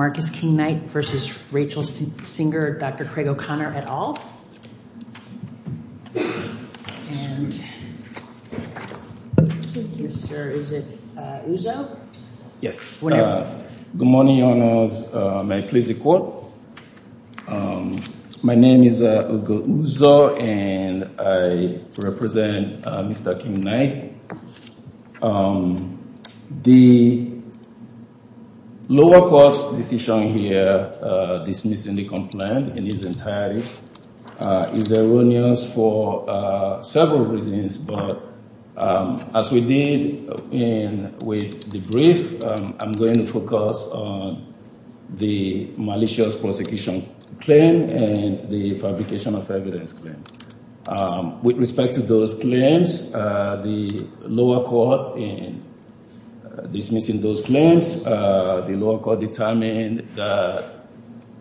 Marcus King-Knight v. Rachel Singer, Dr. Craig O'Connor, et al. Good morning, your honors, may I please record? My name is Ugo Uzo, and I represent Mr. King-Knight. The lower court's decision here dismissing the complaint in its entirety is erroneous for several reasons, but as we did with the brief, I'm going to focus on the malicious prosecution claim and the fabrication of evidence claim. With respect to those claims, the lower court in dismissing those claims, the lower court determined that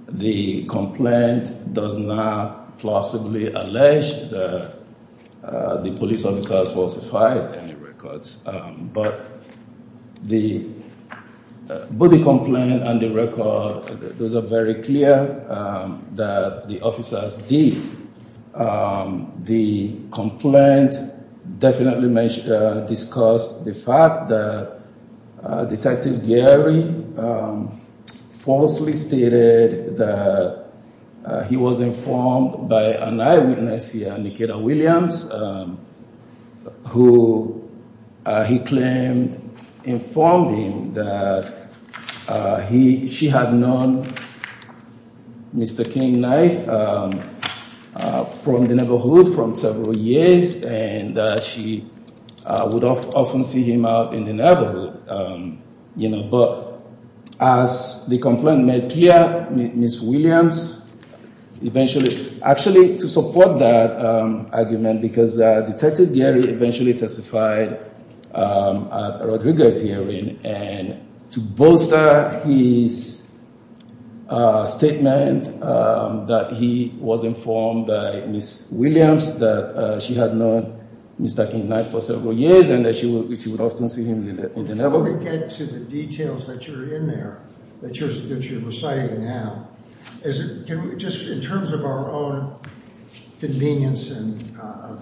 the complaint does not plausibly allege that the police officer has falsified any records. But both the complaint and the record, those are very clear that the officers did. The complaint definitely discussed the fact that Detective Gary falsely stated that he was informed by an eyewitness here, Nikita Williams, who he claimed informed him that she had known Mr. King-Knight. From the neighborhood, from several years, and that she would often see him out in the neighborhood. But as the complaint made clear, Ms. Williams eventually, actually to support that argument, because Detective Gary eventually testified at a Rodriguez hearing. And to bolster his statement that he was informed by Ms. Williams that she had known Mr. King-Knight for several years and that she would often see him in the neighborhood. Now to get to the details that you're in there, that you're reciting now, just in terms of our own convenience in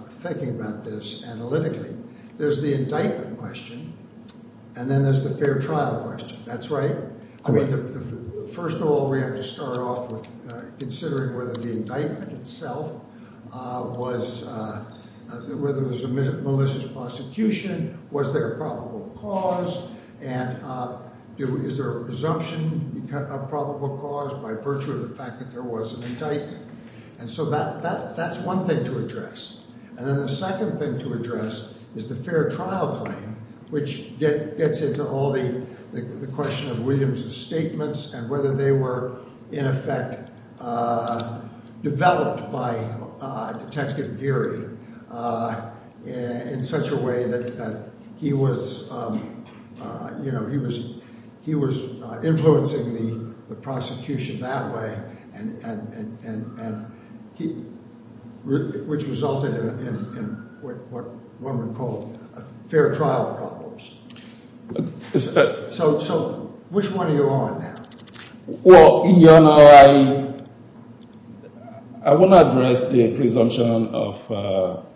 thinking about this analytically, there's the indictment question and then there's the fair trial question. That's right. I mean, first of all, we have to start off with considering whether the indictment itself was, whether it was Melissa's prosecution, was there a probable cause, and is there a presumption of probable cause by virtue of the fact that there was an indictment. And so that's one thing to address. And then the second thing to address is the fair trial claim, which gets into all the question of Williams' statements and whether they were in effect developed by Detective Gary in such a way that he was, you know, he was influencing the prosecution that way. And which resulted in what one would call a fair trial problems. So which one are you on now? Well, you know, I want to address the presumption of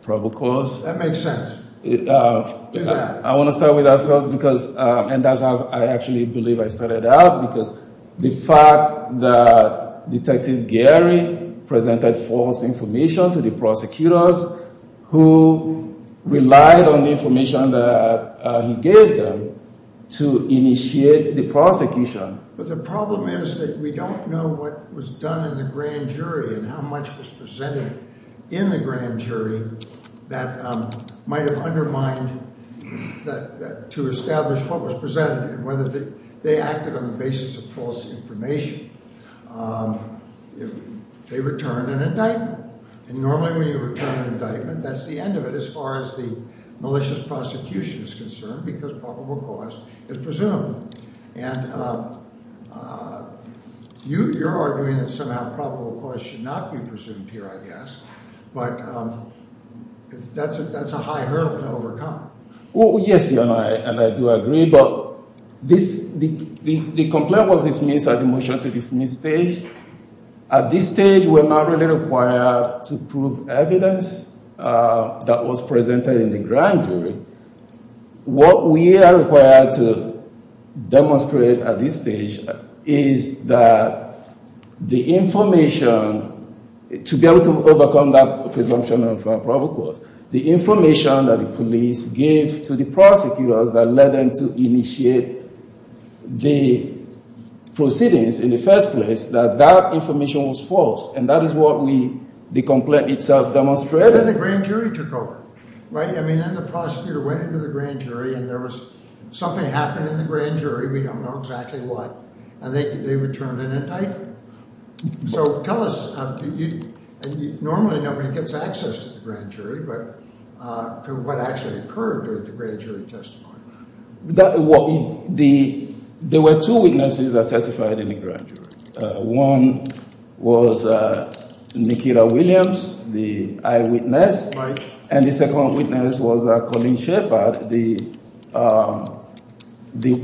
probable cause. That makes sense. Do that. I want to start with that first because, and that's how I actually believe I started out, because the fact that Detective Gary presented false information to the prosecutors who relied on the information that he gave them to initiate the prosecution. But the problem is that we don't know what was done in the grand jury and how much was presented in the grand jury that might have undermined that, to establish what was presented and whether they acted on the basis of false information. They returned an indictment. And normally when you return an indictment, that's the end of it as far as the malicious prosecution is concerned because probable cause is presumed. And you're arguing that somehow probable cause should not be presumed here, I guess, but that's a high hurdle to overcome. Well, yes, and I do agree, but the complaint was dismissed at the motion to dismiss stage. At this stage, we're not really required to prove evidence that was presented in the grand jury. What we are required to demonstrate at this stage is that the information, to be able to overcome that presumption of probable cause, the information that the police gave to the prosecutors that led them to initiate the proceedings in the first place, that that information was false. And that is what the complaint itself demonstrated. And then the grand jury took over, right? I mean, then the prosecutor went into the grand jury and there was something happened in the grand jury, we don't know exactly what, and they returned an indictment. So tell us, normally nobody gets access to the grand jury, but what actually occurred during the grand jury testimony? There were two witnesses that testified in the grand jury. One was Nikita Williams, the eyewitness, and the second witness was Colleen Shepard, the victim. The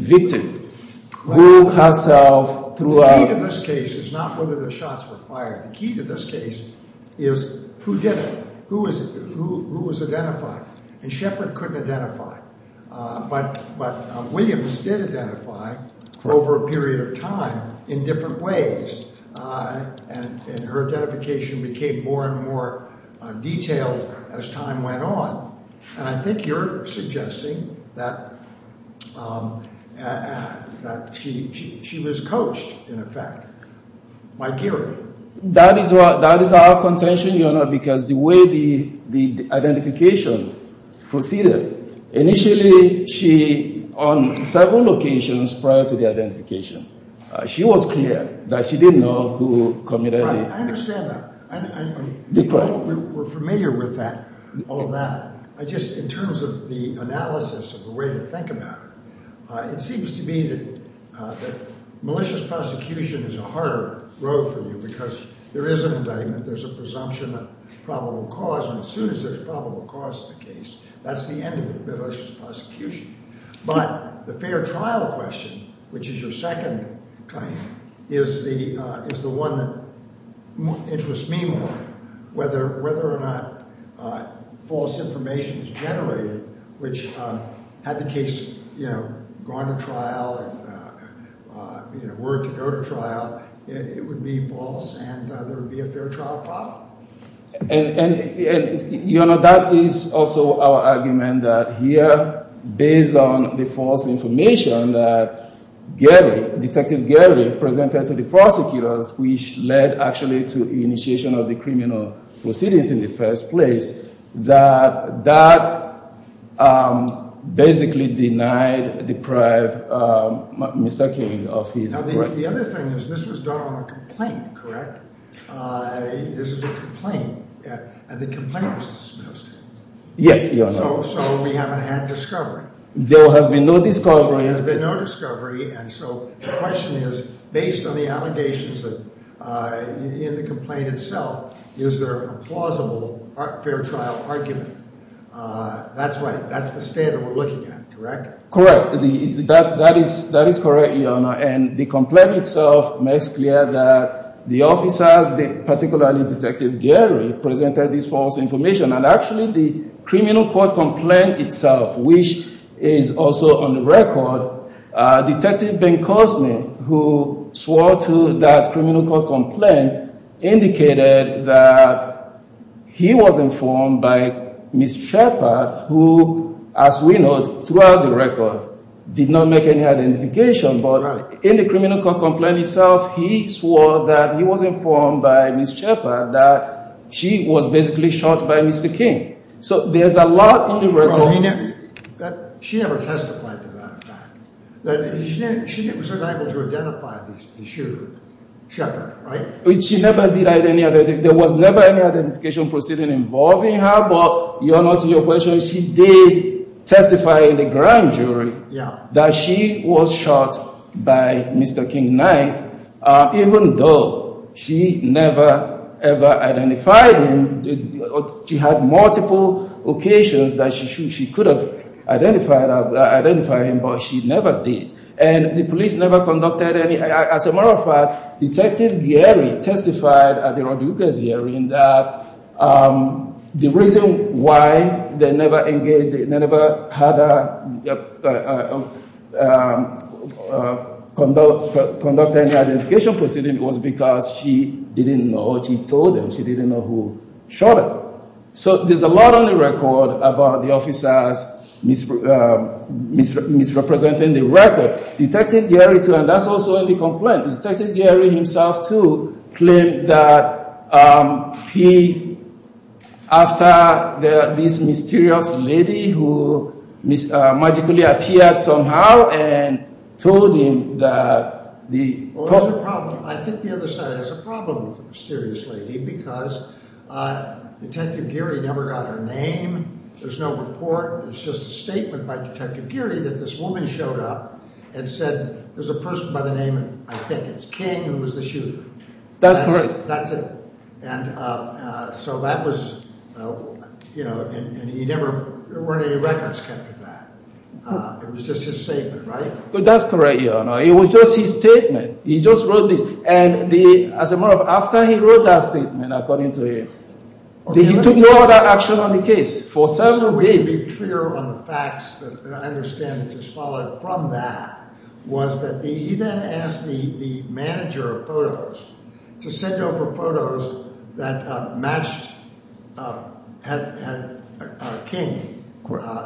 key to this case is not whether the shots were fired. The key to this case is who did it, who was identified. And Shepard couldn't identify, but Williams did identify over a period of time in different ways, and her identification became more and more detailed as time went on. And I think you're suggesting that she was coached, in effect, by Geary. That is our contention, Your Honor, because the way the identification proceeded, initially she, on several occasions prior to the identification, she was clear that she didn't know who committed it. Because there is an indictment, there's a presumption of probable cause, and as soon as there's probable cause in the case, that's the end of it, that's just prosecution. But the fair trial question, which is your second claim, is the one that interests me more, whether or not false information is generated, which had the case gone to trial and were to go to trial, it would be false and there would be a fair trial problem. And, Your Honor, that is also our argument that here, based on the false information that Geary, Detective Geary, presented to the prosecutors, which led actually to initiation of the criminal proceedings in the first place, that that basically denied, deprived Mr. King of his authority. Now, the other thing is this was done on a complaint, correct? This is a complaint, and the complaint was dismissed. Yes, Your Honor. So we haven't had discovery. There has been no discovery. There has been no discovery, and so the question is, based on the allegations in the complaint itself, is there a plausible fair trial argument? That's right, that's the standard we're looking at, correct? Correct. That is correct, Your Honor, and the complaint itself makes clear that the officers, particularly Detective Geary, presented this false information. And actually, the criminal court complaint itself, which is also on the record, Detective Bencosme, who swore to that criminal court complaint, indicated that he was informed by Ms. Shepherd, who, as we know, throughout the record, did not make any identification. But in the criminal court complaint itself, he swore that he was informed by Ms. Shepherd that she was basically shot by Mr. King. So there's a lot in the record. She never testified to that fact. She was unable to identify the shooter, Ms. Shepherd, right? There was never any identification proceeding involving her, but Your Honor, to your question, she did testify in the grand jury that she was shot by Mr. King Knight, even though she never, ever identified him. She had multiple occasions that she could have identified him, but she never did. And the police never conducted any, as a matter of fact, Detective Geary testified at the Rodriguez hearing that the reason why they never had her conduct any identification proceeding was because she didn't know. She told them she didn't know who shot her. So there's a lot on the record about the officers misrepresenting the record. And that's also in the complaint. Detective Geary himself, too, claimed that he, after this mysterious lady who magically appeared somehow and told him that the… I think the other side has a problem with the mysterious lady because Detective Geary never got her name. There's no report. It's just a statement by Detective Geary that this woman showed up and said, there's a person by the name of, I think it's King, who was the shooter. That's correct. That's it. And so that was, you know, and he never, there weren't any records kept of that. It was just his statement, right? That's correct, Your Honor. It was just his statement. He just wrote this. And the, as a matter of fact, after he wrote that statement, according to him, he took no other action on the case for seven days. I understand that just followed from that was that he then asked the manager of photos to send over photos that matched King,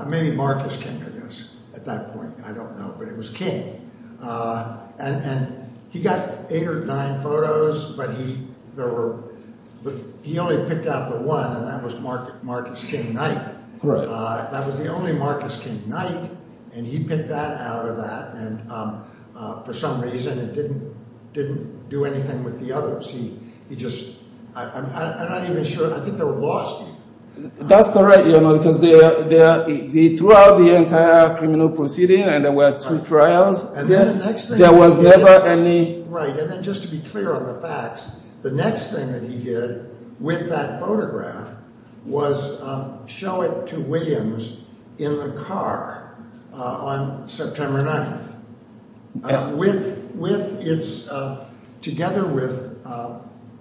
maybe Marcus King, I guess, at that point. I don't know, but it was King. And he got eight or nine photos, but he, there were, he only picked out the one, and that was Marcus King Knight. Correct. That was the only Marcus King Knight, and he picked that out of that. And for some reason, it didn't do anything with the others. He just, I'm not even sure, I think they lost him. That's correct, Your Honor, because they threw out the entire criminal proceeding, and there were two trials. And then the next thing he did. There was never any. Right, and then just to be clear on the facts, the next thing that he did with that photograph was show it to Williams in the car on September 9th. With its, together with,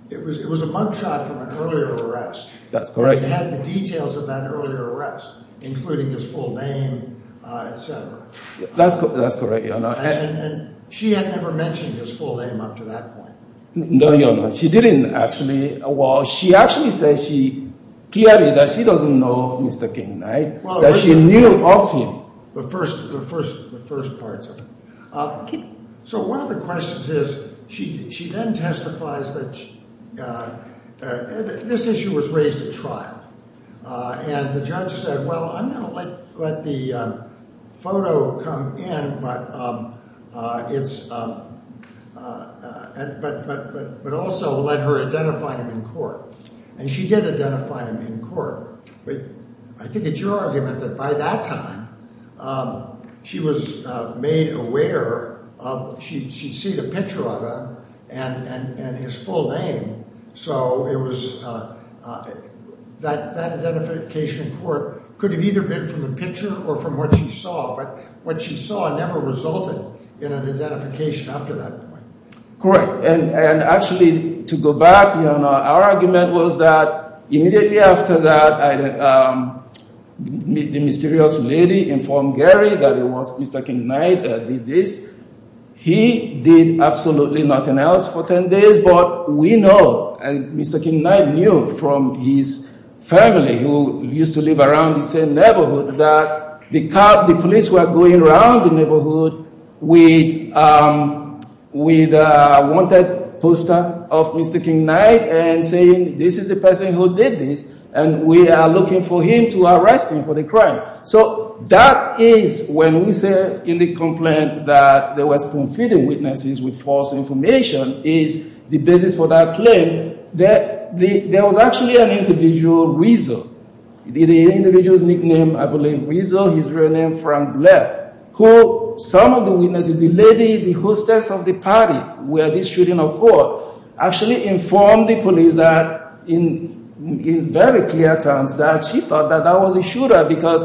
it was a mug shot from an earlier arrest. That's correct. And it had the details of that earlier arrest, including his full name, etc. That's correct, Your Honor. And she had never mentioned his full name up to that point. No, Your Honor, she didn't actually. Well, she actually said she, clearly that she doesn't know Mr. King Knight, that she knew of him. So one of the questions is, she then testifies that this issue was raised at trial. And the judge said, well, I'm going to let the photo come in, but also let her identify him in court. And she did identify him in court. I think it's your argument that by that time, she was made aware of, she'd seen a picture of him and his full name. So it was, that identification in court could have either been from the picture or from what she saw. But what she saw never resulted in an identification up to that point. Correct. And actually, to go back, Your Honor, our argument was that immediately after that, the mysterious lady informed Gary that it was Mr. King Knight that did this. He did absolutely nothing else for 10 days. But we know, and Mr. King Knight knew from his family who used to live around the same neighborhood, that the police were going around the neighborhood with a wanted poster of Mr. King Knight and saying, this is the person who did this, and we are looking for him to arrest him for the crime. So that is, when we say in the complaint that there was confidant witnesses with false information, is the basis for that claim that there was actually an individual, Rizzo. The individual's nickname, I believe, Rizzo, his real name, Frank Blair, who some of the witnesses, the lady, the hostess of the party where this shooting occurred, actually informed the police that, in very clear terms, that she thought that that was a shooter because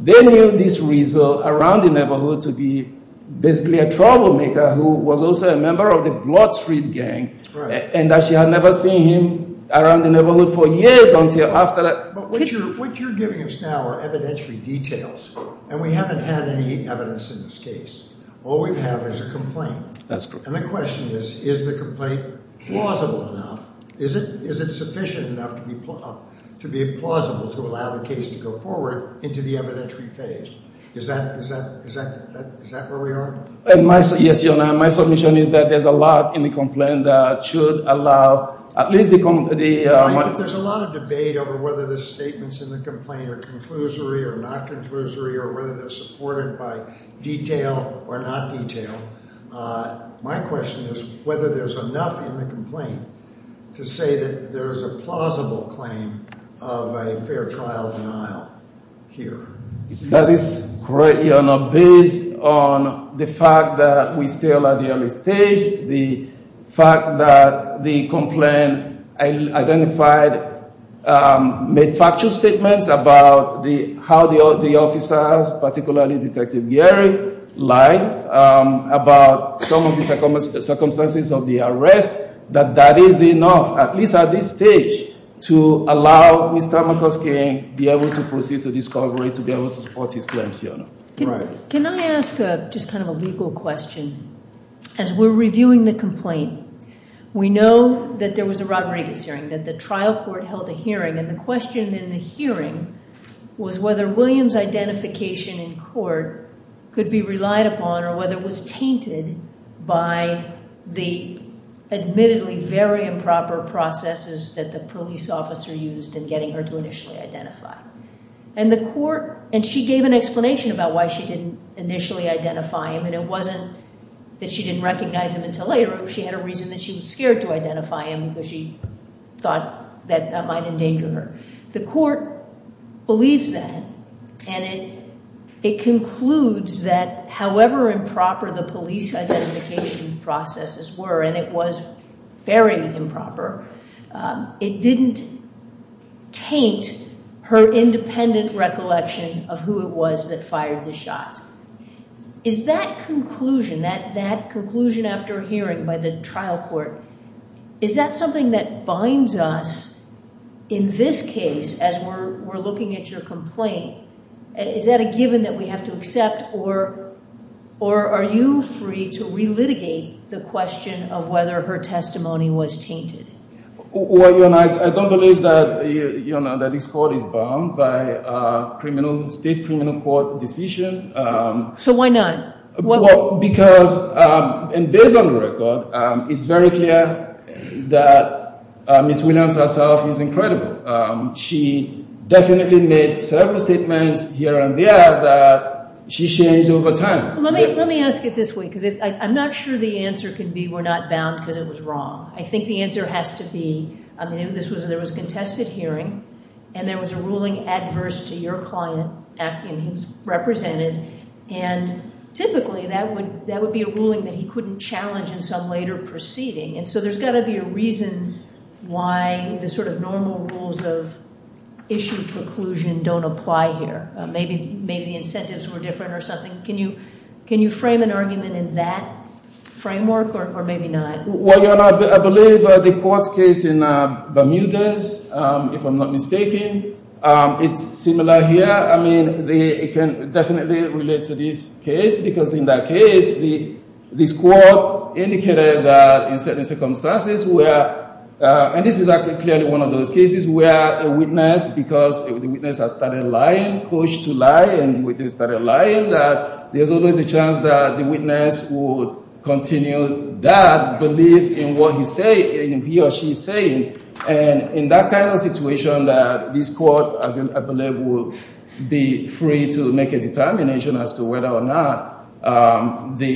they knew this Rizzo around the neighborhood to be basically a troublemaker who was also a member of the Blood Street Gang, and that she had never seen him around the neighborhood for years until after that. But what you're giving us now are evidentiary details, and we haven't had any evidence in this case. All we have is a complaint. That's correct. And the question is, is the complaint plausible enough? Is it sufficient enough to be plausible to allow the case to go forward into the evidentiary phase? Is that where we are? Yes, Your Honor. My submission is that there's a lot in the complaint that should allow at least the… There's a lot of debate over whether the statements in the complaint are conclusory or not conclusory or whether they're supported by detail or not detail. My question is whether there's enough in the complaint to say that there's a plausible claim of a fair trial denial here. That is correct, Your Honor, based on the fact that we're still at the early stage. The fact that the complaint identified made factual statements about how the officers, particularly Detective Geary, lied about some of the circumstances of the arrest. That is enough, at least at this stage, to allow Mr. McCluskey to be able to proceed to discovery, to be able to support his claims, Your Honor. Can I ask just kind of a legal question? As we're reviewing the complaint, we know that there was a Rodriguez hearing, that the trial court held a hearing. And the question in the hearing was whether Williams' identification in court could be relied upon or whether it was tainted by the admittedly very improper processes that the police officer used in getting her to initially identify. And the court, and she gave an explanation about why she didn't initially identify him, and it wasn't that she didn't recognize him until later. She had a reason that she was scared to identify him because she thought that that might endanger her. The court believes that, and it concludes that however improper the police identification processes were, and it was very improper, it didn't taint her independent recollection of who it was that fired the shots. Is that conclusion, that conclusion after hearing by the trial court, is that something that binds us in this case as we're looking at your complaint? Is that a given that we have to accept, or are you free to relitigate the question of whether her testimony was tainted? Well, you know, I don't believe that this court is bound by criminal, state criminal court decision. So why not? Well, because, and based on the record, it's very clear that Ms. Williams herself is incredible. She definitely made several statements here and there that she changed over time. Let me ask it this way, because I'm not sure the answer can be we're not bound because it was wrong. I think the answer has to be, I mean, there was a contested hearing, and there was a ruling adverse to your client after he was represented. And typically, that would be a ruling that he couldn't challenge in some later proceeding. And so there's got to be a reason why the sort of normal rules of issue conclusion don't apply here. Maybe the incentives were different or something. Can you frame an argument in that framework, or maybe not? Well, your Honor, I believe the court's case in Bermudez, if I'm not mistaken, it's similar here. I mean, it can definitely relate to this case, because in that case, this court indicated that in certain circumstances where, and this is actually clearly one of those cases where a witness, because the witness has started lying, pushed to lie, and the witness started lying, that there's always a chance that the witness would continue that belief in what he or she is saying. And in that kind of situation, this court, I believe, would be free to make a determination as to whether or not the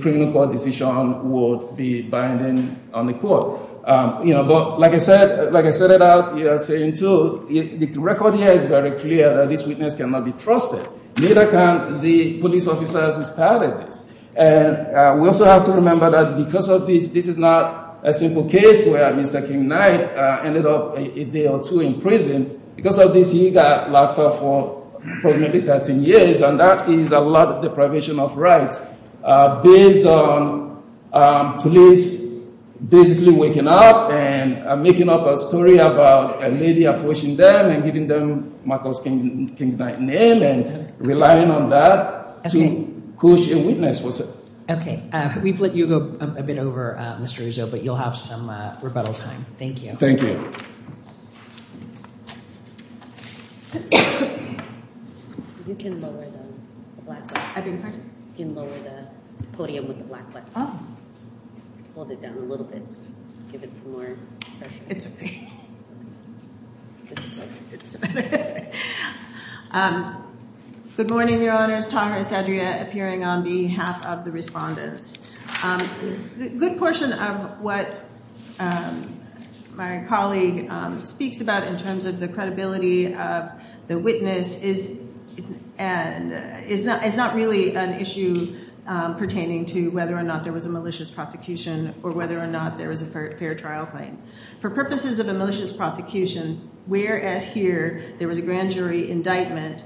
criminal court decision would be binding on the court. But like I said, like I set it out, you are saying too, the record here is very clear that this witness cannot be trusted. Neither can the police officers who started this. And we also have to remember that because of this, this is not a simple case where Mr. King Knight ended up a day or two in prison. Because of this, he got locked up for probably 13 years, and that is a lot of deprivation of rights. Based on police basically waking up and making up a story about a lady approaching them and giving them Michael King Knight name and relying on that to push a witness. Okay. We've let you go a bit over, Mr. Uzo, but you'll have some rebuttal time. Thank you. Thank you. You can lower the podium with the black box. Hold it down a little bit. Give it some more pressure. It's okay. Good morning, Your Honors. Taha Esadria appearing on behalf of the respondents. A good portion of what my colleague speaks about in terms of the credibility of the witness is not really an issue pertaining to whether or not there was a malicious prosecution or whether or not there was a fair trial claim. For purposes of a malicious prosecution, whereas here there was a grand jury indictment,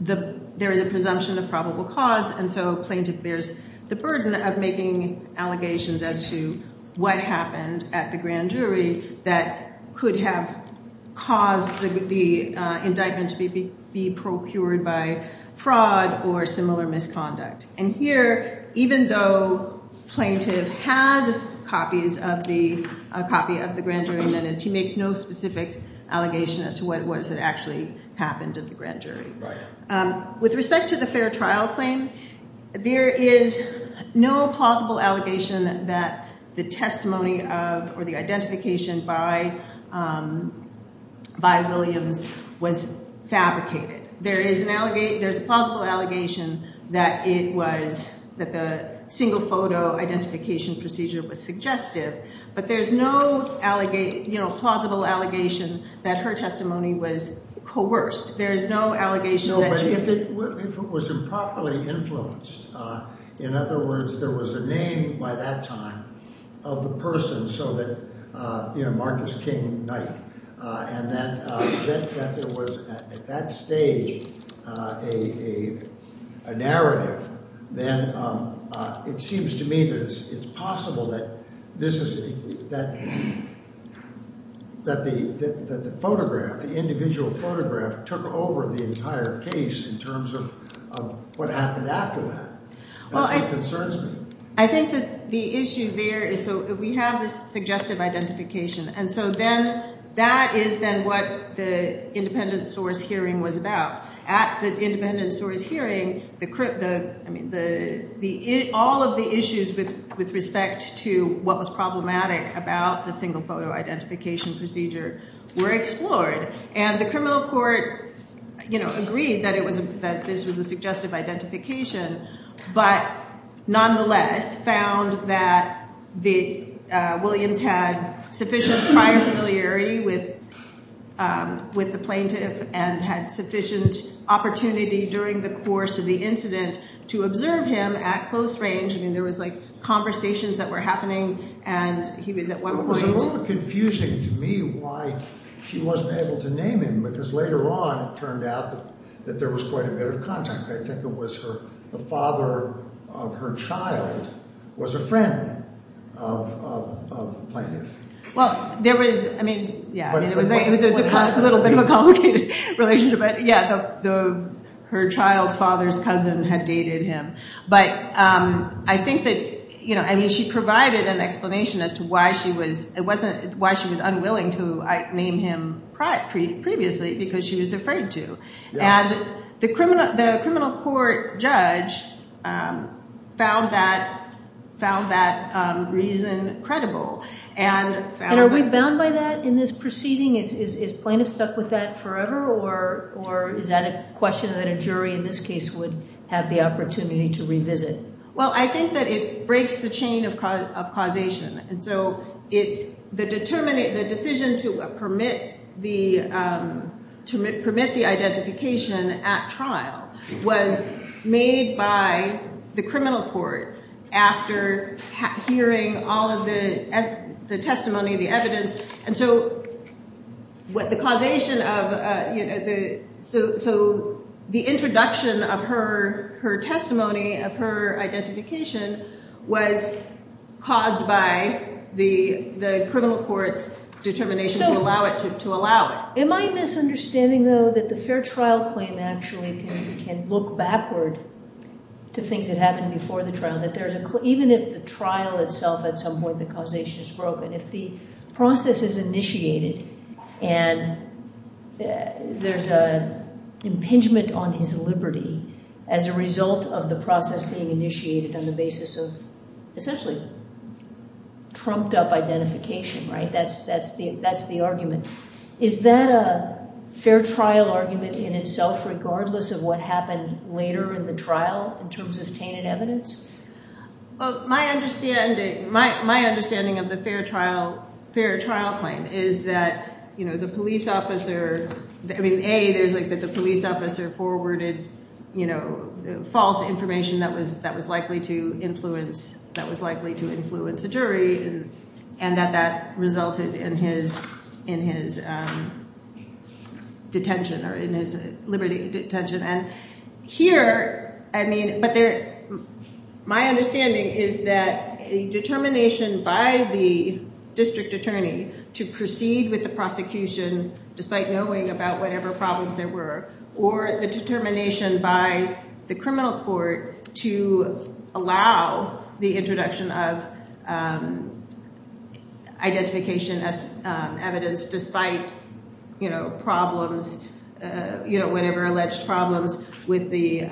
there is a presumption of probable cause. And so plaintiff bears the burden of making allegations as to what happened at the grand jury that could have caused the indictment to be procured by fraud or similar misconduct. And here, even though plaintiff had copies of the grand jury minutes, he makes no specific allegation as to what it was that actually happened at the grand jury. With respect to the fair trial claim, there is no plausible allegation that the testimony of or the identification by Williams was fabricated. There is a plausible allegation that the single photo identification procedure was suggestive. But there's no plausible allegation that her testimony was coerced. There is no allegation that she— No, but if it was improperly influenced. In other words, there was a name by that time of the person so that, you know, Marcus King Knight, and that there was at that stage a narrative. Then it seems to me that it's possible that this is—that the photograph, the individual photograph, took over the entire case in terms of what happened after that. That's what concerns me. I think that the issue there is—so we have this suggestive identification. And so then that is then what the independent source hearing was about. At the independent source hearing, the—I mean, all of the issues with respect to what was problematic about the single photo identification procedure were explored. And the criminal court, you know, agreed that it was—that this was a suggestive identification, but nonetheless found that the—Williams had sufficient prior familiarity with the plaintiff and had sufficient opportunity during the course of the incident to observe him at close range. I mean, there was like conversations that were happening, and he was at one point— It was a little confusing to me why she wasn't able to name him because later on it turned out that there was quite a bit of contact. I think it was her—the father of her child was a friend of the plaintiff. Well, there was—I mean, yeah. There was a little bit of a complicated relationship. But yeah, her child's father's cousin had dated him. But I think that, you know—I mean, she provided an explanation as to why she was—it wasn't—why she was unwilling to name him previously because she was afraid to. And the criminal court judge found that reason credible and found that— Well, I think that it breaks the chain of causation. And so it's—the decision to permit the identification at trial was made by the criminal court after hearing all of the testimony, the evidence. And so what the causation of—so the introduction of her testimony of her identification was caused by the criminal court's determination to allow it. Am I misunderstanding, though, that the fair trial claim actually can look backward to things that happened before the trial? Even if the trial itself at some point the causation is broken, if the process is initiated and there's an impingement on his liberty as a result of the process being initiated on the basis of essentially trumped-up identification, right? That's the argument. Is that a fair trial argument in itself regardless of what happened later in the trial in terms of tainted evidence? Well, my understanding—my understanding of the fair trial claim is that, you know, the police officer—I mean, A, there's like the police officer forwarded, you know, false information that was likely to influence—that was likely to influence a jury and that that resulted in his detention or in his liberty detention. And here, I mean—but there—my understanding is that a determination by the district attorney to proceed with the prosecution despite knowing about whatever problems there were or the determination by the criminal court to allow the introduction of identification as evidence despite, you know, problems— you know, whatever alleged problems with the—with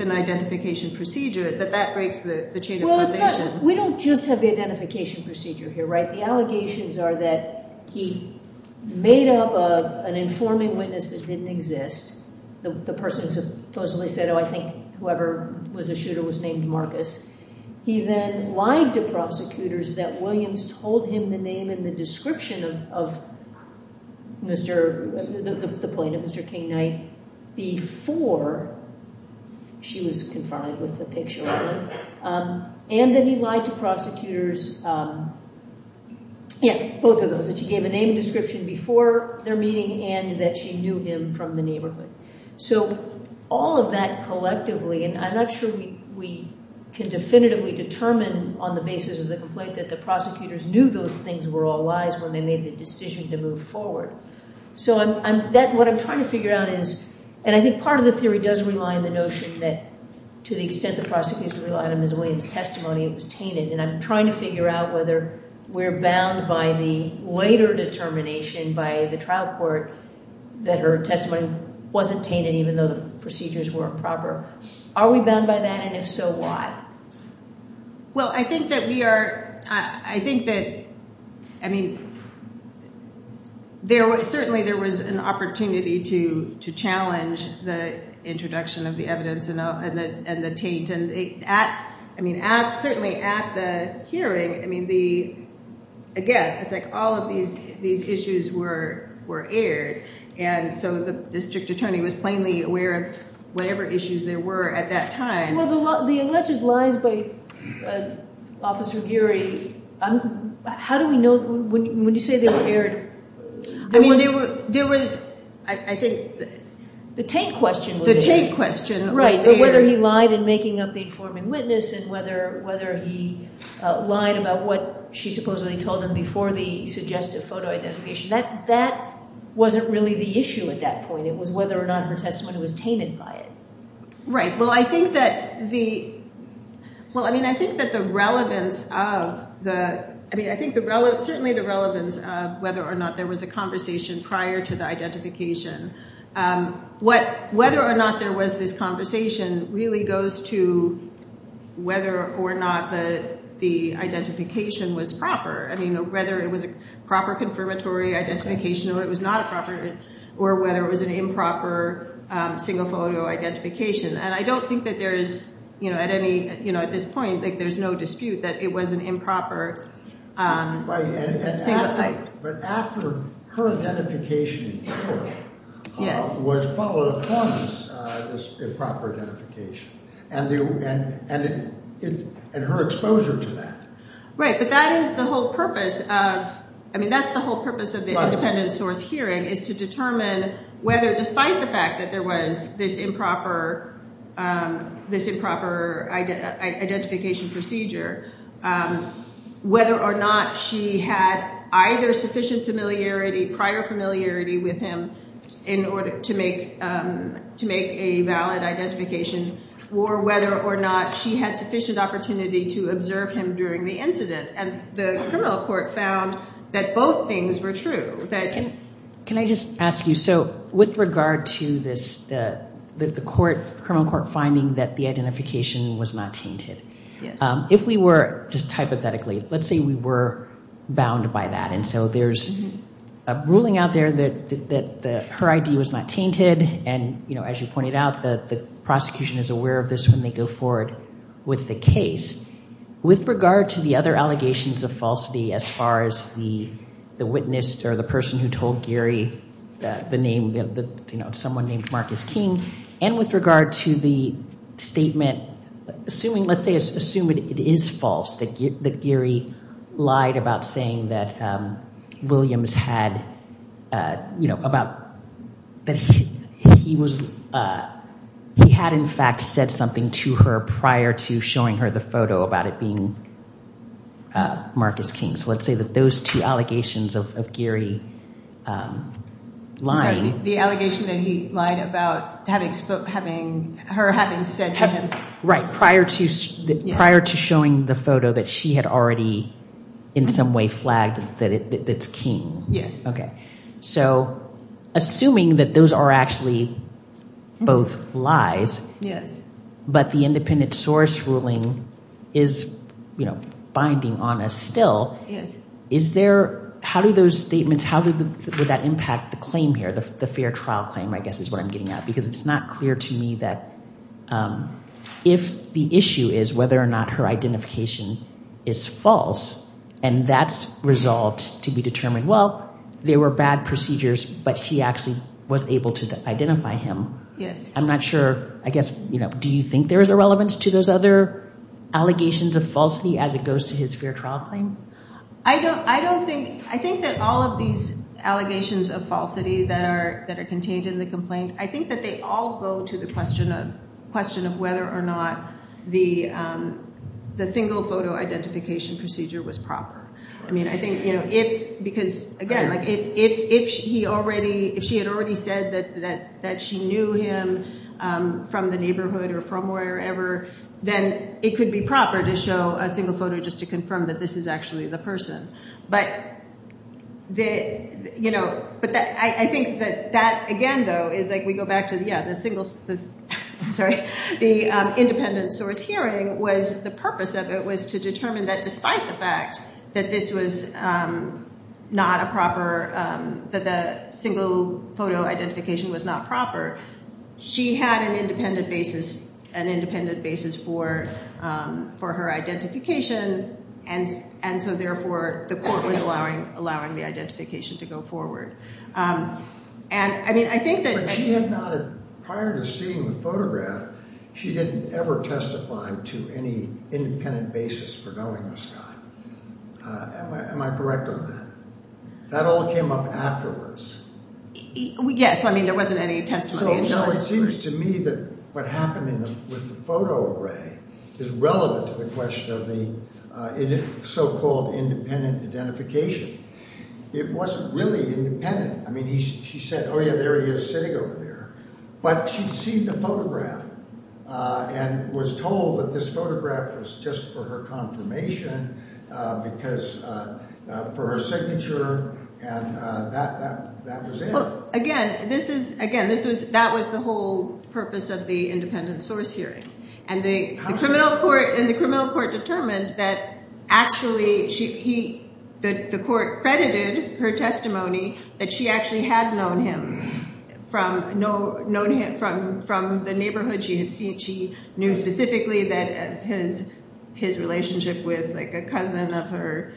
an identification procedure, that that breaks the chain of conversation. Well, it's not—we don't just have the identification procedure here, right? The allegations are that he made up an informing witness that didn't exist, the person who supposedly said, oh, I think whoever was the shooter was named Marcus. He then lied to prosecutors that Williams told him the name and the description of Mr.—the plaintiff, Mr. King Knight, before she was confined with the picture. And then he lied to prosecutors—yeah, both of those—that she gave a name and description before their meeting and that she knew him from the neighborhood. So all of that collectively—and I'm not sure we can definitively determine on the basis of the complaint that the prosecutors knew those things were all lies when they made the decision to move forward. So I'm—that—what I'm trying to figure out is—and I think part of the theory does rely on the notion that to the extent the prosecutors rely on Ms. Williams' testimony, it was tainted. And I'm trying to figure out whether we're bound by the later determination by the trial court that her testimony wasn't tainted even though the procedures were improper. Are we bound by that? And if so, why? Well, I think that we are—I think that—I mean, there was—certainly there was an opportunity to challenge the introduction of the evidence and the taint. And at—I mean, at—certainly at the hearing, I mean, the—again, it's like all of these issues were aired. And so the district attorney was plainly aware of whatever issues there were at that time. Well, the alleged lies by Officer Geary, how do we know—when you say they were aired— I mean, there was—I think— The taint question was aired. The taint question was aired. Right, but whether he lied in making up the informing witness and whether he lied about what she supposedly told him before the suggestive photo identification, that wasn't really the issue at that point. It was whether or not her testimony was tainted by it. Right. Well, I think that the—well, I mean, I think that the relevance of the—I mean, I think the—certainly the relevance of whether or not there was a conversation prior to the identification. Whether or not there was this conversation really goes to whether or not the identification was proper. I mean, whether it was a proper confirmatory identification or it was not a proper—or whether it was an improper single photo identification. And I don't think that there is, you know, at any—you know, at this point, like, there's no dispute that it was an improper single type. But after her identification was followed up on this improper identification and her exposure to that. Right, but that is the whole purpose of—I mean, that's the whole purpose of the independent source hearing is to determine whether, despite the fact that there was this improper identification procedure, whether or not she had either sufficient familiarity, prior familiarity with him in order to make a valid identification, or whether or not she had sufficient opportunity to observe him during the incident. And the criminal court found that both things were true. Can I just ask you, so with regard to this—the court, criminal court finding that the identification was not tainted. Yes. If we were, just hypothetically, let's say we were bound by that. And so there's a ruling out there that her ID was not tainted. And, you know, as you pointed out, the prosecution is aware of this when they go forward with the case. With regard to the other allegations of falsity as far as the witness or the person who told Gary the name, you know, someone named Marcus King, and with regard to the statement—assuming, let's say, assume it is false that Gary lied about saying that Williams had, you know, about—that he was—he had, in fact, said something to her prior to showing her the photo. About it being Marcus King. So let's say that those two allegations of Gary lying— The allegation that he lied about having—her having said to him— Right, prior to showing the photo that she had already in some way flagged that it's King. Yes. Okay. So assuming that those are actually both lies— But the independent source ruling is, you know, binding on us still. Yes. Is there—how do those statements—how would that impact the claim here, the fair trial claim, I guess, is what I'm getting at. Because it's not clear to me that if the issue is whether or not her identification is false, and that's resolved to be determined, well, there were bad procedures, but she actually was able to identify him. Yes. I'm not sure—I guess, you know, do you think there is a relevance to those other allegations of falsity as it goes to his fair trial claim? I don't think—I think that all of these allegations of falsity that are contained in the complaint, I think that they all go to the question of whether or not the single photo identification procedure was proper. I mean, I think, you know, if—because, again, like, if he already—if she had already said that she knew him from the neighborhood or from wherever, then it could be proper to show a single photo just to confirm that this is actually the person. But, you know, I think that that, again, though, is like we go back to, yeah, the single—I'm sorry—the independent source hearing was—the purpose of it was to determine that despite the fact that this was not a proper—that the single photo identification was not proper, she had an independent basis—an independent basis for her identification, and so, therefore, the court was allowing the identification to go forward. And, I mean, I think that— But she had not—prior to seeing the photograph, she didn't ever testify to any independent basis for knowing this guy. Am I correct on that? That all came up afterwards. Yes. I mean, there wasn't any testimony. So it seems to me that what happened with the photo array is relevant to the question of the so-called independent identification. It wasn't really independent. I mean, she said, oh, yeah, there he is sitting over there. But she'd seen the photograph and was told that this photograph was just for her confirmation because—for her signature, and that was it. So, again, this is—again, this was—that was the whole purpose of the independent source hearing. And the criminal court determined that actually she—he—the court credited her testimony that she actually had known him from the neighborhood she had seen. She knew specifically that his relationship with, like, a cousin of her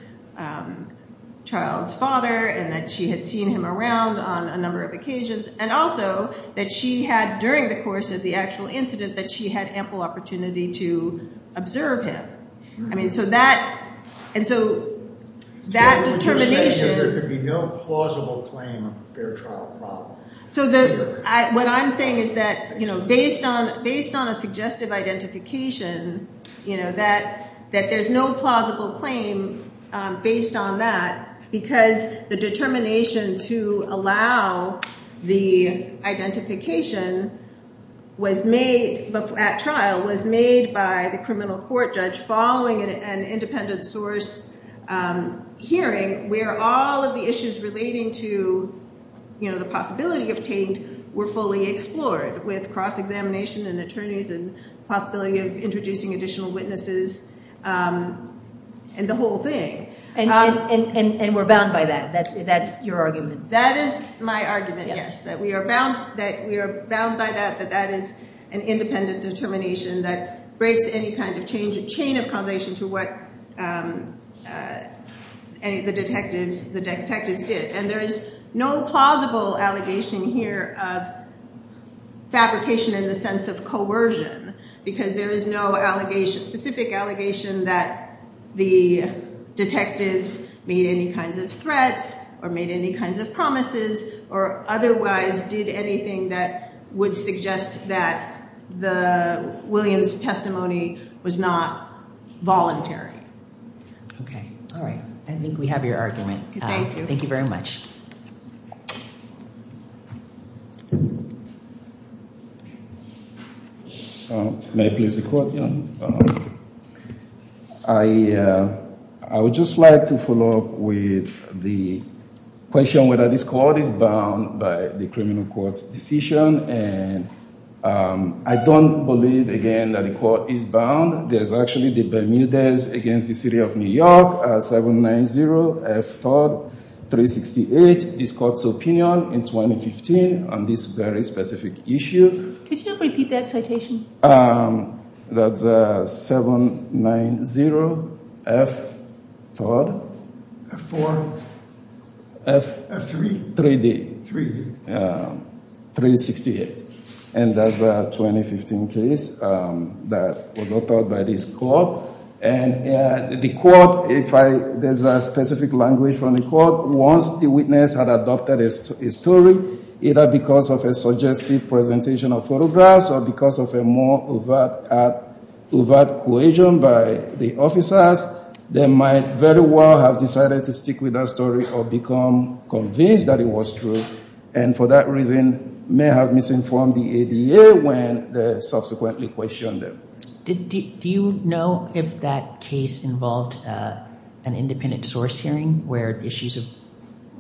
child's father and that she had seen him around on a number of occasions. And also that she had, during the course of the actual incident, that she had ample opportunity to observe him. I mean, so that—and so that determination— So what you're saying is there could be no plausible claim of a fair trial problem. So the—what I'm saying is that, you know, based on—based on a suggestive identification, you know, that—that there's no plausible claim based on that because the determination to allow the identification was made—at trial was made by the criminal court judge following an independent source hearing where all of the issues relating to, you know, the possibility of taint were fully explored with cross-examination and attorneys and possibility of introducing additional witnesses and the whole thing. And—and—and we're bound by that. Is that your argument? That is my argument, yes. That we are bound—that we are bound by that, that that is an independent determination that breaks any kind of change—a chain of causation to what any of the detectives—the detectives did. And there is no plausible allegation here of fabrication in the sense of coercion because there is no allegation—specific allegation that the detectives made any kinds of threats or made any kinds of promises or otherwise did anything that would suggest that the—William's testimony was not voluntary. Okay. All right. I think we have your argument. Thank you. Thank you very much. May I please support you on—I—I would just like to follow up with the question whether this court is bound by the criminal court's decision. And I don't believe, again, that the court is bound. There's actually the Bermudez against the city of New York, 790 F. Todd, 368 is court's opinion in 2015 on this very specific issue. Could you repeat that citation? That's 790 F. Todd. F4? F. F3? 3D. 3D. 368. And that's a 2015 case that was authored by this court. And the court—if I—there's a specific language from the court. had adopted a story, either because of a suggestive presentation of photographs or because of a more overt cohesion by the officers, they might very well have decided to stick with that story or become convinced that it was true. And for that reason, may have misinformed the ADA when they subsequently questioned them. Do you know if that case involved an independent source hearing where issues of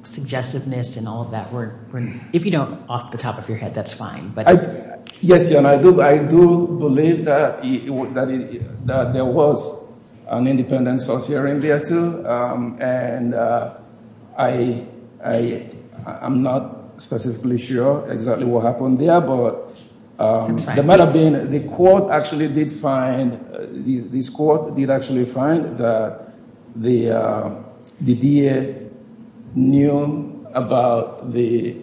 suggestiveness and all of that were—if you don't off the top of your head, that's fine. Yes, and I do believe that there was an independent source hearing there, too. And I'm not specifically sure exactly what happened there, but the matter being, the court actually did find—this court did actually find that the DA knew about the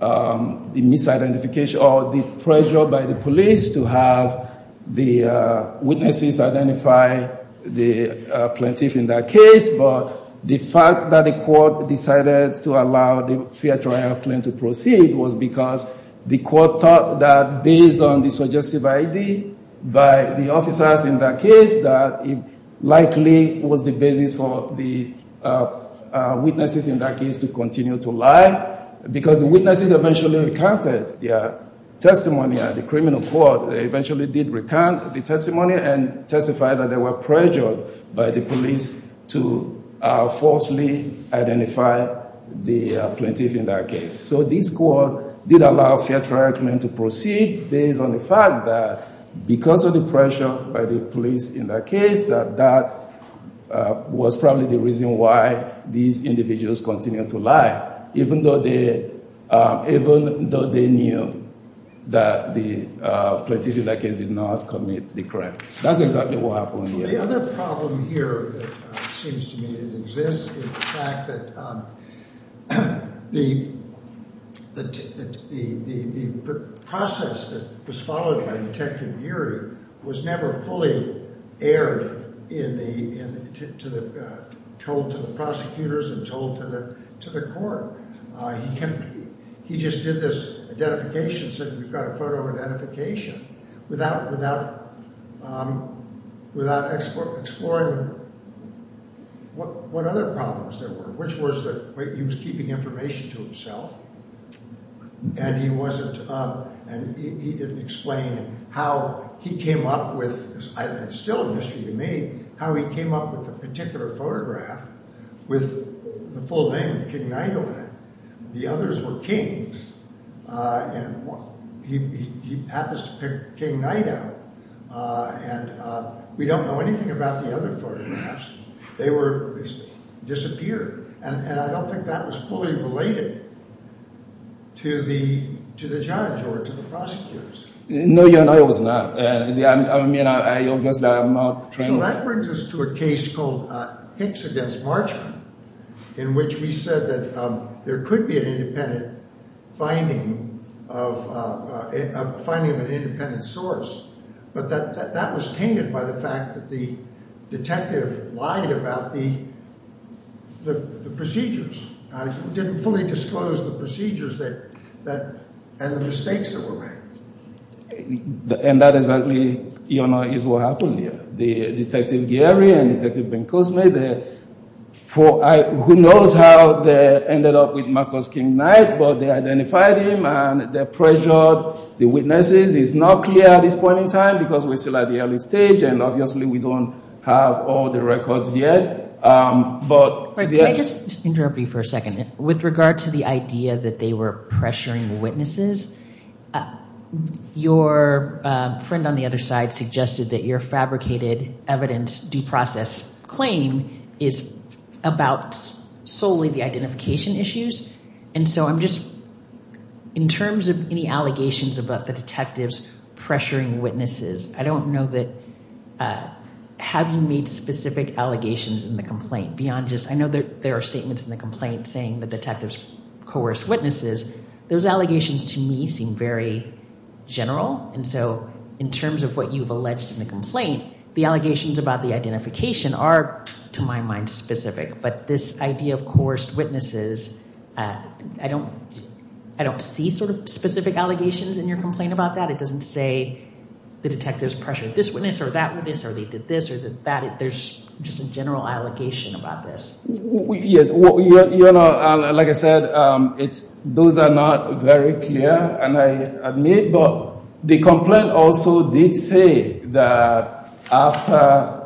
misidentification or the pressure by the police to have the witnesses identify the plaintiff in that case. But the fact that the court decided to allow the fair trial claim to proceed was because the court thought that based on the suggestive ID by the officers in that case, that it likely was the basis for the witnesses in that case to continue to lie. Why? Because the witnesses eventually recounted their testimony at the criminal court. They eventually did recount the testimony and testified that they were pressured by the police to falsely identify the plaintiff in that case. So this court did allow a fair trial claim to proceed based on the fact that because of the pressure by the police in that case, that that was probably the reason why these individuals continued to lie, even though they knew that the plaintiff in that case did not commit the crime. That's exactly what happened there. The other problem here that seems to me that exists is the fact that the process that was followed by Detective Geary was never fully aired in the—told to the prosecutors and told to the court. He just did this identification, said, we've got a photo identification without exploring what other problems there were, which was that he was keeping information to himself and he wasn't—he didn't explain how he came up with—it's still a mystery to me—how he came up with a particular photograph with the full name of King Nigel in it. The others were Kings, and he happens to pick King Night out, and we don't know anything about the other photographs. They were—disappeared, and I don't think that was fully related to the judge or to the prosecutors. No, your honor, it was not. I mean, I obviously am not— So that brings us to a case called Hicks against Marchman, in which we said that there could be an independent finding of—a finding of an independent source, but that was tainted by the fact that the detective lied about the procedures. He didn't fully disclose the procedures that—and the mistakes that were made. And that is actually, your honor, is what happened here. The Detective Geary and Detective Bencosme, who knows how they ended up with Marcos King Night, but they identified him and they pressured the witnesses. It's not clear at this point in time because we're still at the early stage, and obviously we don't have all the records yet, but— Can I just interrupt you for a second? With regard to the idea that they were pressuring witnesses, your friend on the other side suggested that your fabricated evidence due process claim is about solely the identification issues. And so I'm just—in terms of any allegations about the detectives pressuring witnesses, I don't know that—have you made specific allegations in the complaint beyond just—I know there are statements in the complaint saying the detectives coerced witnesses. Those allegations to me seem very general, and so in terms of what you've alleged in the complaint, the allegations about the identification are, to my mind, specific. But this idea of coerced witnesses, I don't see sort of specific allegations in your complaint about that. It doesn't say the detectives pressured this witness or that witness or they did this or that. There's just a general allegation about this. Yes. You know, like I said, those are not very clear, and I admit, but the complaint also did say that after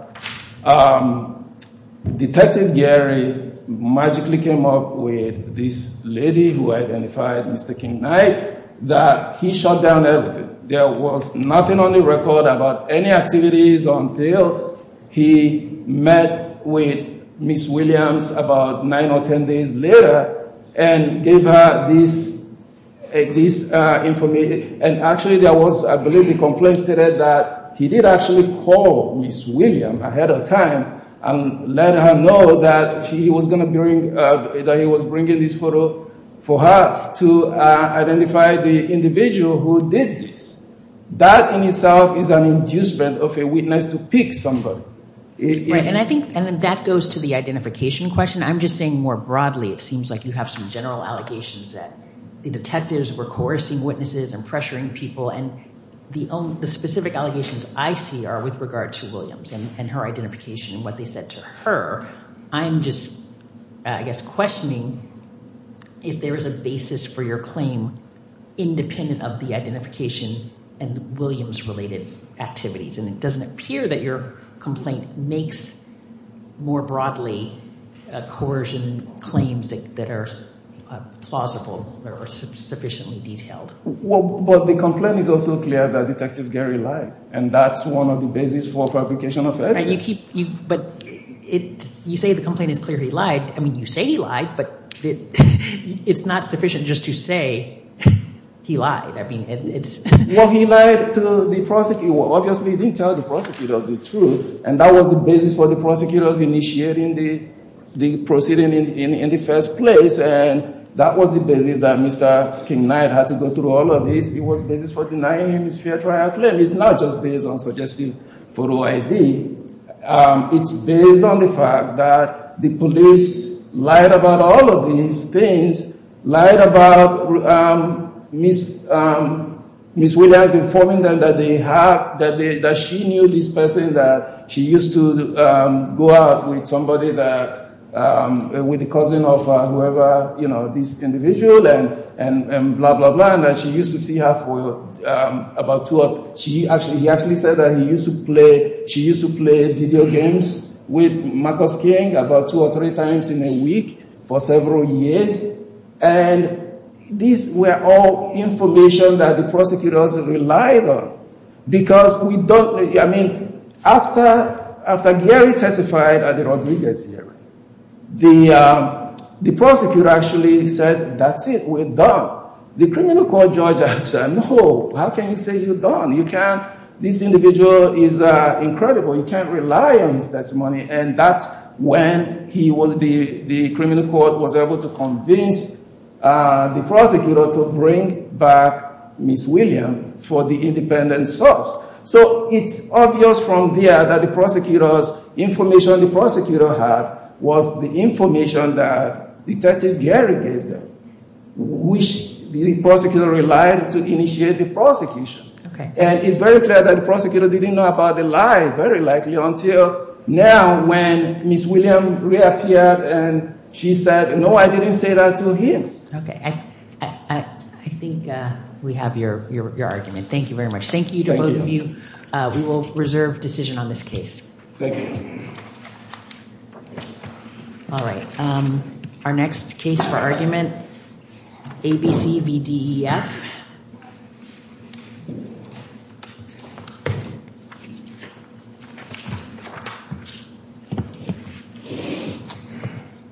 Detective Gary magically came up with this lady who identified Mr. King Knight, that he shot down everything. There was nothing on the record about any activities until he met with Ms. Williams about nine or ten days later and gave her this information. And actually there was, I believe, a complaint stated that he did actually call Ms. Williams ahead of time and let her know that he was bringing this photo for her to identify the individual who did this. That in itself is an inducement of a witness to pick somebody. And I think that goes to the identification question. I'm just saying more broadly, it seems like you have some general allegations that the detectives were coercing witnesses and pressuring people. And the specific allegations I see are with regard to Williams and her identification and what they said to her. I'm just, I guess, questioning if there is a basis for your claim independent of the identification and Williams-related activities. And it doesn't appear that your complaint makes more broadly coercion claims that are plausible or sufficiently detailed. Well, but the complaint is also clear that Detective Gary lied, and that's one of the basis for fabrication of evidence. But you say the complaint is clear he lied. I mean, you say he lied, but it's not sufficient just to say he lied. Well, he lied to the prosecutor. Obviously he didn't tell the prosecutor the truth. And that was the basis for the prosecutor initiating the proceeding in the first place. And that was the basis that Mr. King Knight had to go through all of this. It was the basis for denying him his fair trial claim. It's not just based on suggestive photo ID. It's based on the fact that the police lied about all of these things, lied about Ms. Williams informing them that she knew this person, that she used to go out with somebody that, with a cousin of whoever, you know, this individual, and blah, blah, blah. And that she used to see her for about two, she actually, he actually said that he used to play, she used to play video games with Marcus King about two or three times in a week for several years. And these were all information that the prosecutors relied on. Because we don't, I mean, after Gary testified at the Rodriguez hearing, the prosecutor actually said, that's it, we're done. The criminal court judge actually said, no, how can you say you're done? You can't, this individual is incredible. You can't rely on his testimony. And that's when he, the criminal court was able to convince the prosecutor to bring back Ms. Williams for the independent source. So it's obvious from there that the prosecutor's information, the prosecutor had was the information that Detective Gary gave them. Which the prosecutor relied to initiate the prosecution. And it's very clear that the prosecutor didn't know about the lie, very likely, until now when Ms. Williams reappeared and she said, no, I didn't say that to him. Okay. I think we have your argument. Thank you very much. Thank you to both of you. We will reserve decision on this case. Thank you. All right. Our next case for argument, ABC v. DEF.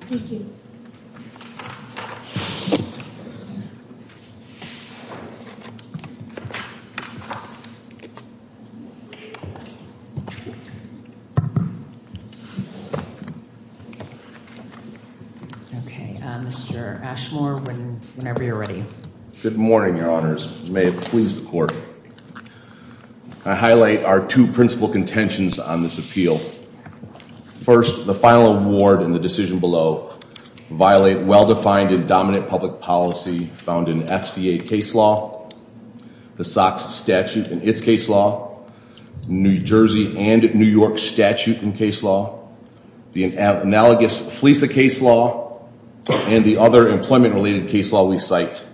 Okay. Mr. Ashmore, whenever you're ready. Good morning, your honors. May it please the court. I highlight our two principal contentions on this appeal. First, the final award and the decision below violate well-defined and dominant public policy found in FCA case law, the SOX statute in its case law, New Jersey and New York statute in case law, the analogous FLEASA case law, and the other employment-related case law we cite.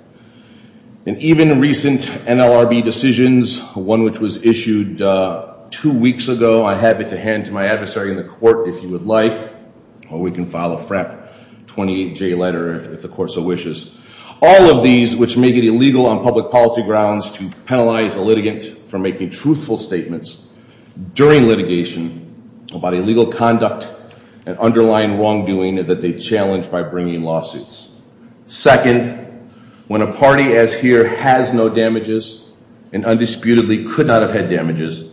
And even recent NLRB decisions, one which was issued two weeks ago, I have it to hand to my adversary in the court, if you would like. Or we can file a FRAP 28J letter, if the court so wishes. All of these which make it illegal on public policy grounds to penalize a litigant for making truthful statements during litigation about illegal conduct and underlying wrongdoing that they challenge by bringing lawsuits. Second, when a party as here has no damages and undisputedly could not have had damages,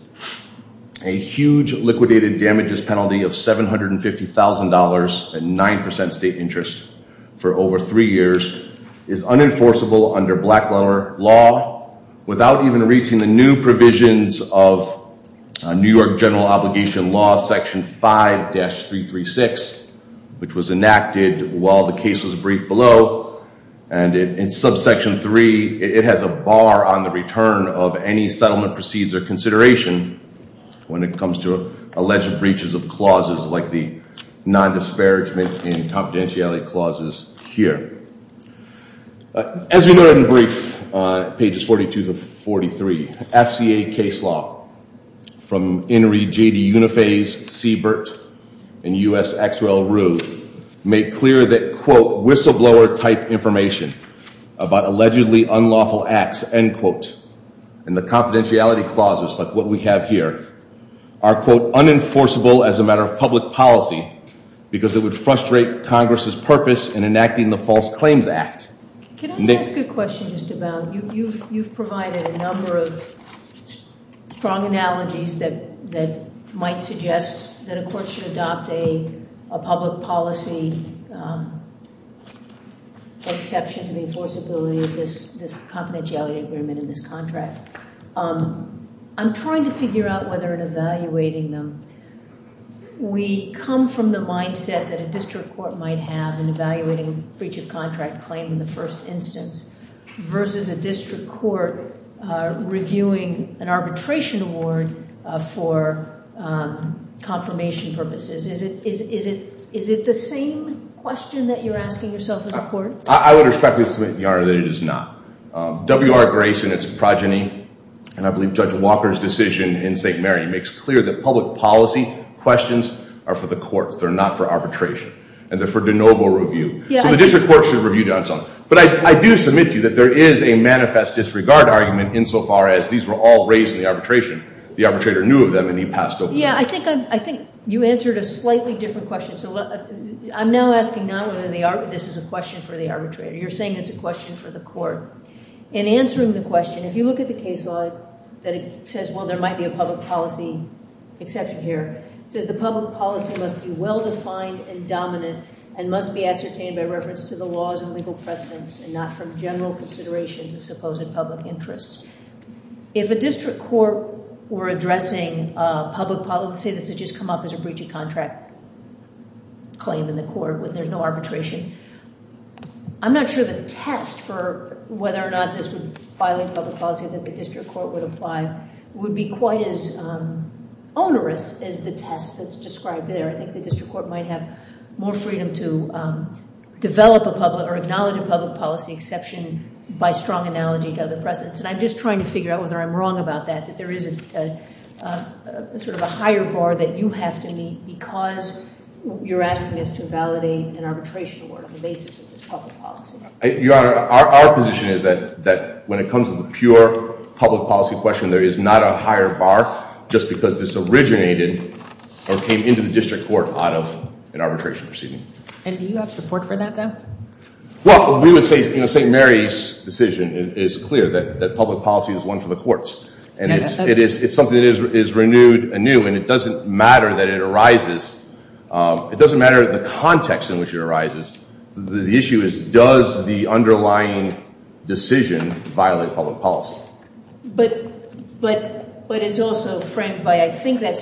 a huge liquidated damages penalty of $750,000 and 9% state interest for over three years is unenforceable under Blacklawer law without even reaching the new provisions of New York general obligation law section 5-336, which was enacted while the case was briefed below. And in subsection 3, it has a bar on the return of any settlement proceeds or consideration when it comes to alleged breaches of clauses like the non-disparagement and confidentiality clauses here. As we noted in the brief, pages 42 to 43, FCA case law from Henry J.D. Uniphase, Siebert, and U.S. Axwell Rue make clear that, quote, whistleblower type information about allegedly unlawful acts, end quote, and the confidentiality clauses like what we have here are, quote, unenforceable as a matter of public policy because it would frustrate Congress' purpose in enacting the False Claims Act. Can I ask a question just about, you've provided a number of strong analogies that might suggest that a court should adopt a public policy exception to the enforceability of this confidentiality agreement in this contract. I'm trying to figure out whether in evaluating them, we come from the mindset that a district court might have in evaluating breach of contract claim in the first instance versus a district court reviewing an arbitration award for confirmation purposes. Is it the same question that you're asking yourself as a court? I would respectfully submit, Your Honor, that it is not. W.R. Grayson, its progeny, and I believe Judge Walker's decision in St. Mary, makes clear that public policy questions are for the courts. They're not for arbitration. And they're for de novo review. So the district court should review themselves. But I do submit to you that there is a manifest disregard argument insofar as these were all raised in the arbitration. The arbitrator knew of them, and he passed over them. Yeah, I think you answered a slightly different question. So I'm now asking not whether this is a question for the arbitrator. You're saying it's a question for the court. In answering the question, if you look at the case law that says, well, there might be a public policy exception here, it says the public policy must be well-defined and dominant and must be ascertained by reference to the laws and legal precedents and not from general considerations of supposed public interests. If a district court were addressing public policy, let's say this had just come up as a breach of contract claim in the court where there's no arbitration, I'm not sure the test for whether or not this would violate public policy that the district court would apply would be quite as onerous as the test that's described there. I think the district court might have more freedom to develop a public or acknowledge a public policy exception by strong analogy to other precedents. And I'm just trying to figure out whether I'm wrong about that, that there isn't sort of a higher bar that you have to meet because you're asking us to validate an arbitration on the basis of this public policy. Your Honor, our position is that when it comes to the pure public policy question, there is not a higher bar just because this originated or came into the district court out of an arbitration proceeding. And do you have support for that, though? Well, we would say St. Mary's decision is clear that public policy is one for the courts. And it's something that is renewed anew, and it doesn't matter that it arises. It doesn't matter the context in which it arises. The issue is, does the underlying decision violate public policy? But it's also framed by, I think that's...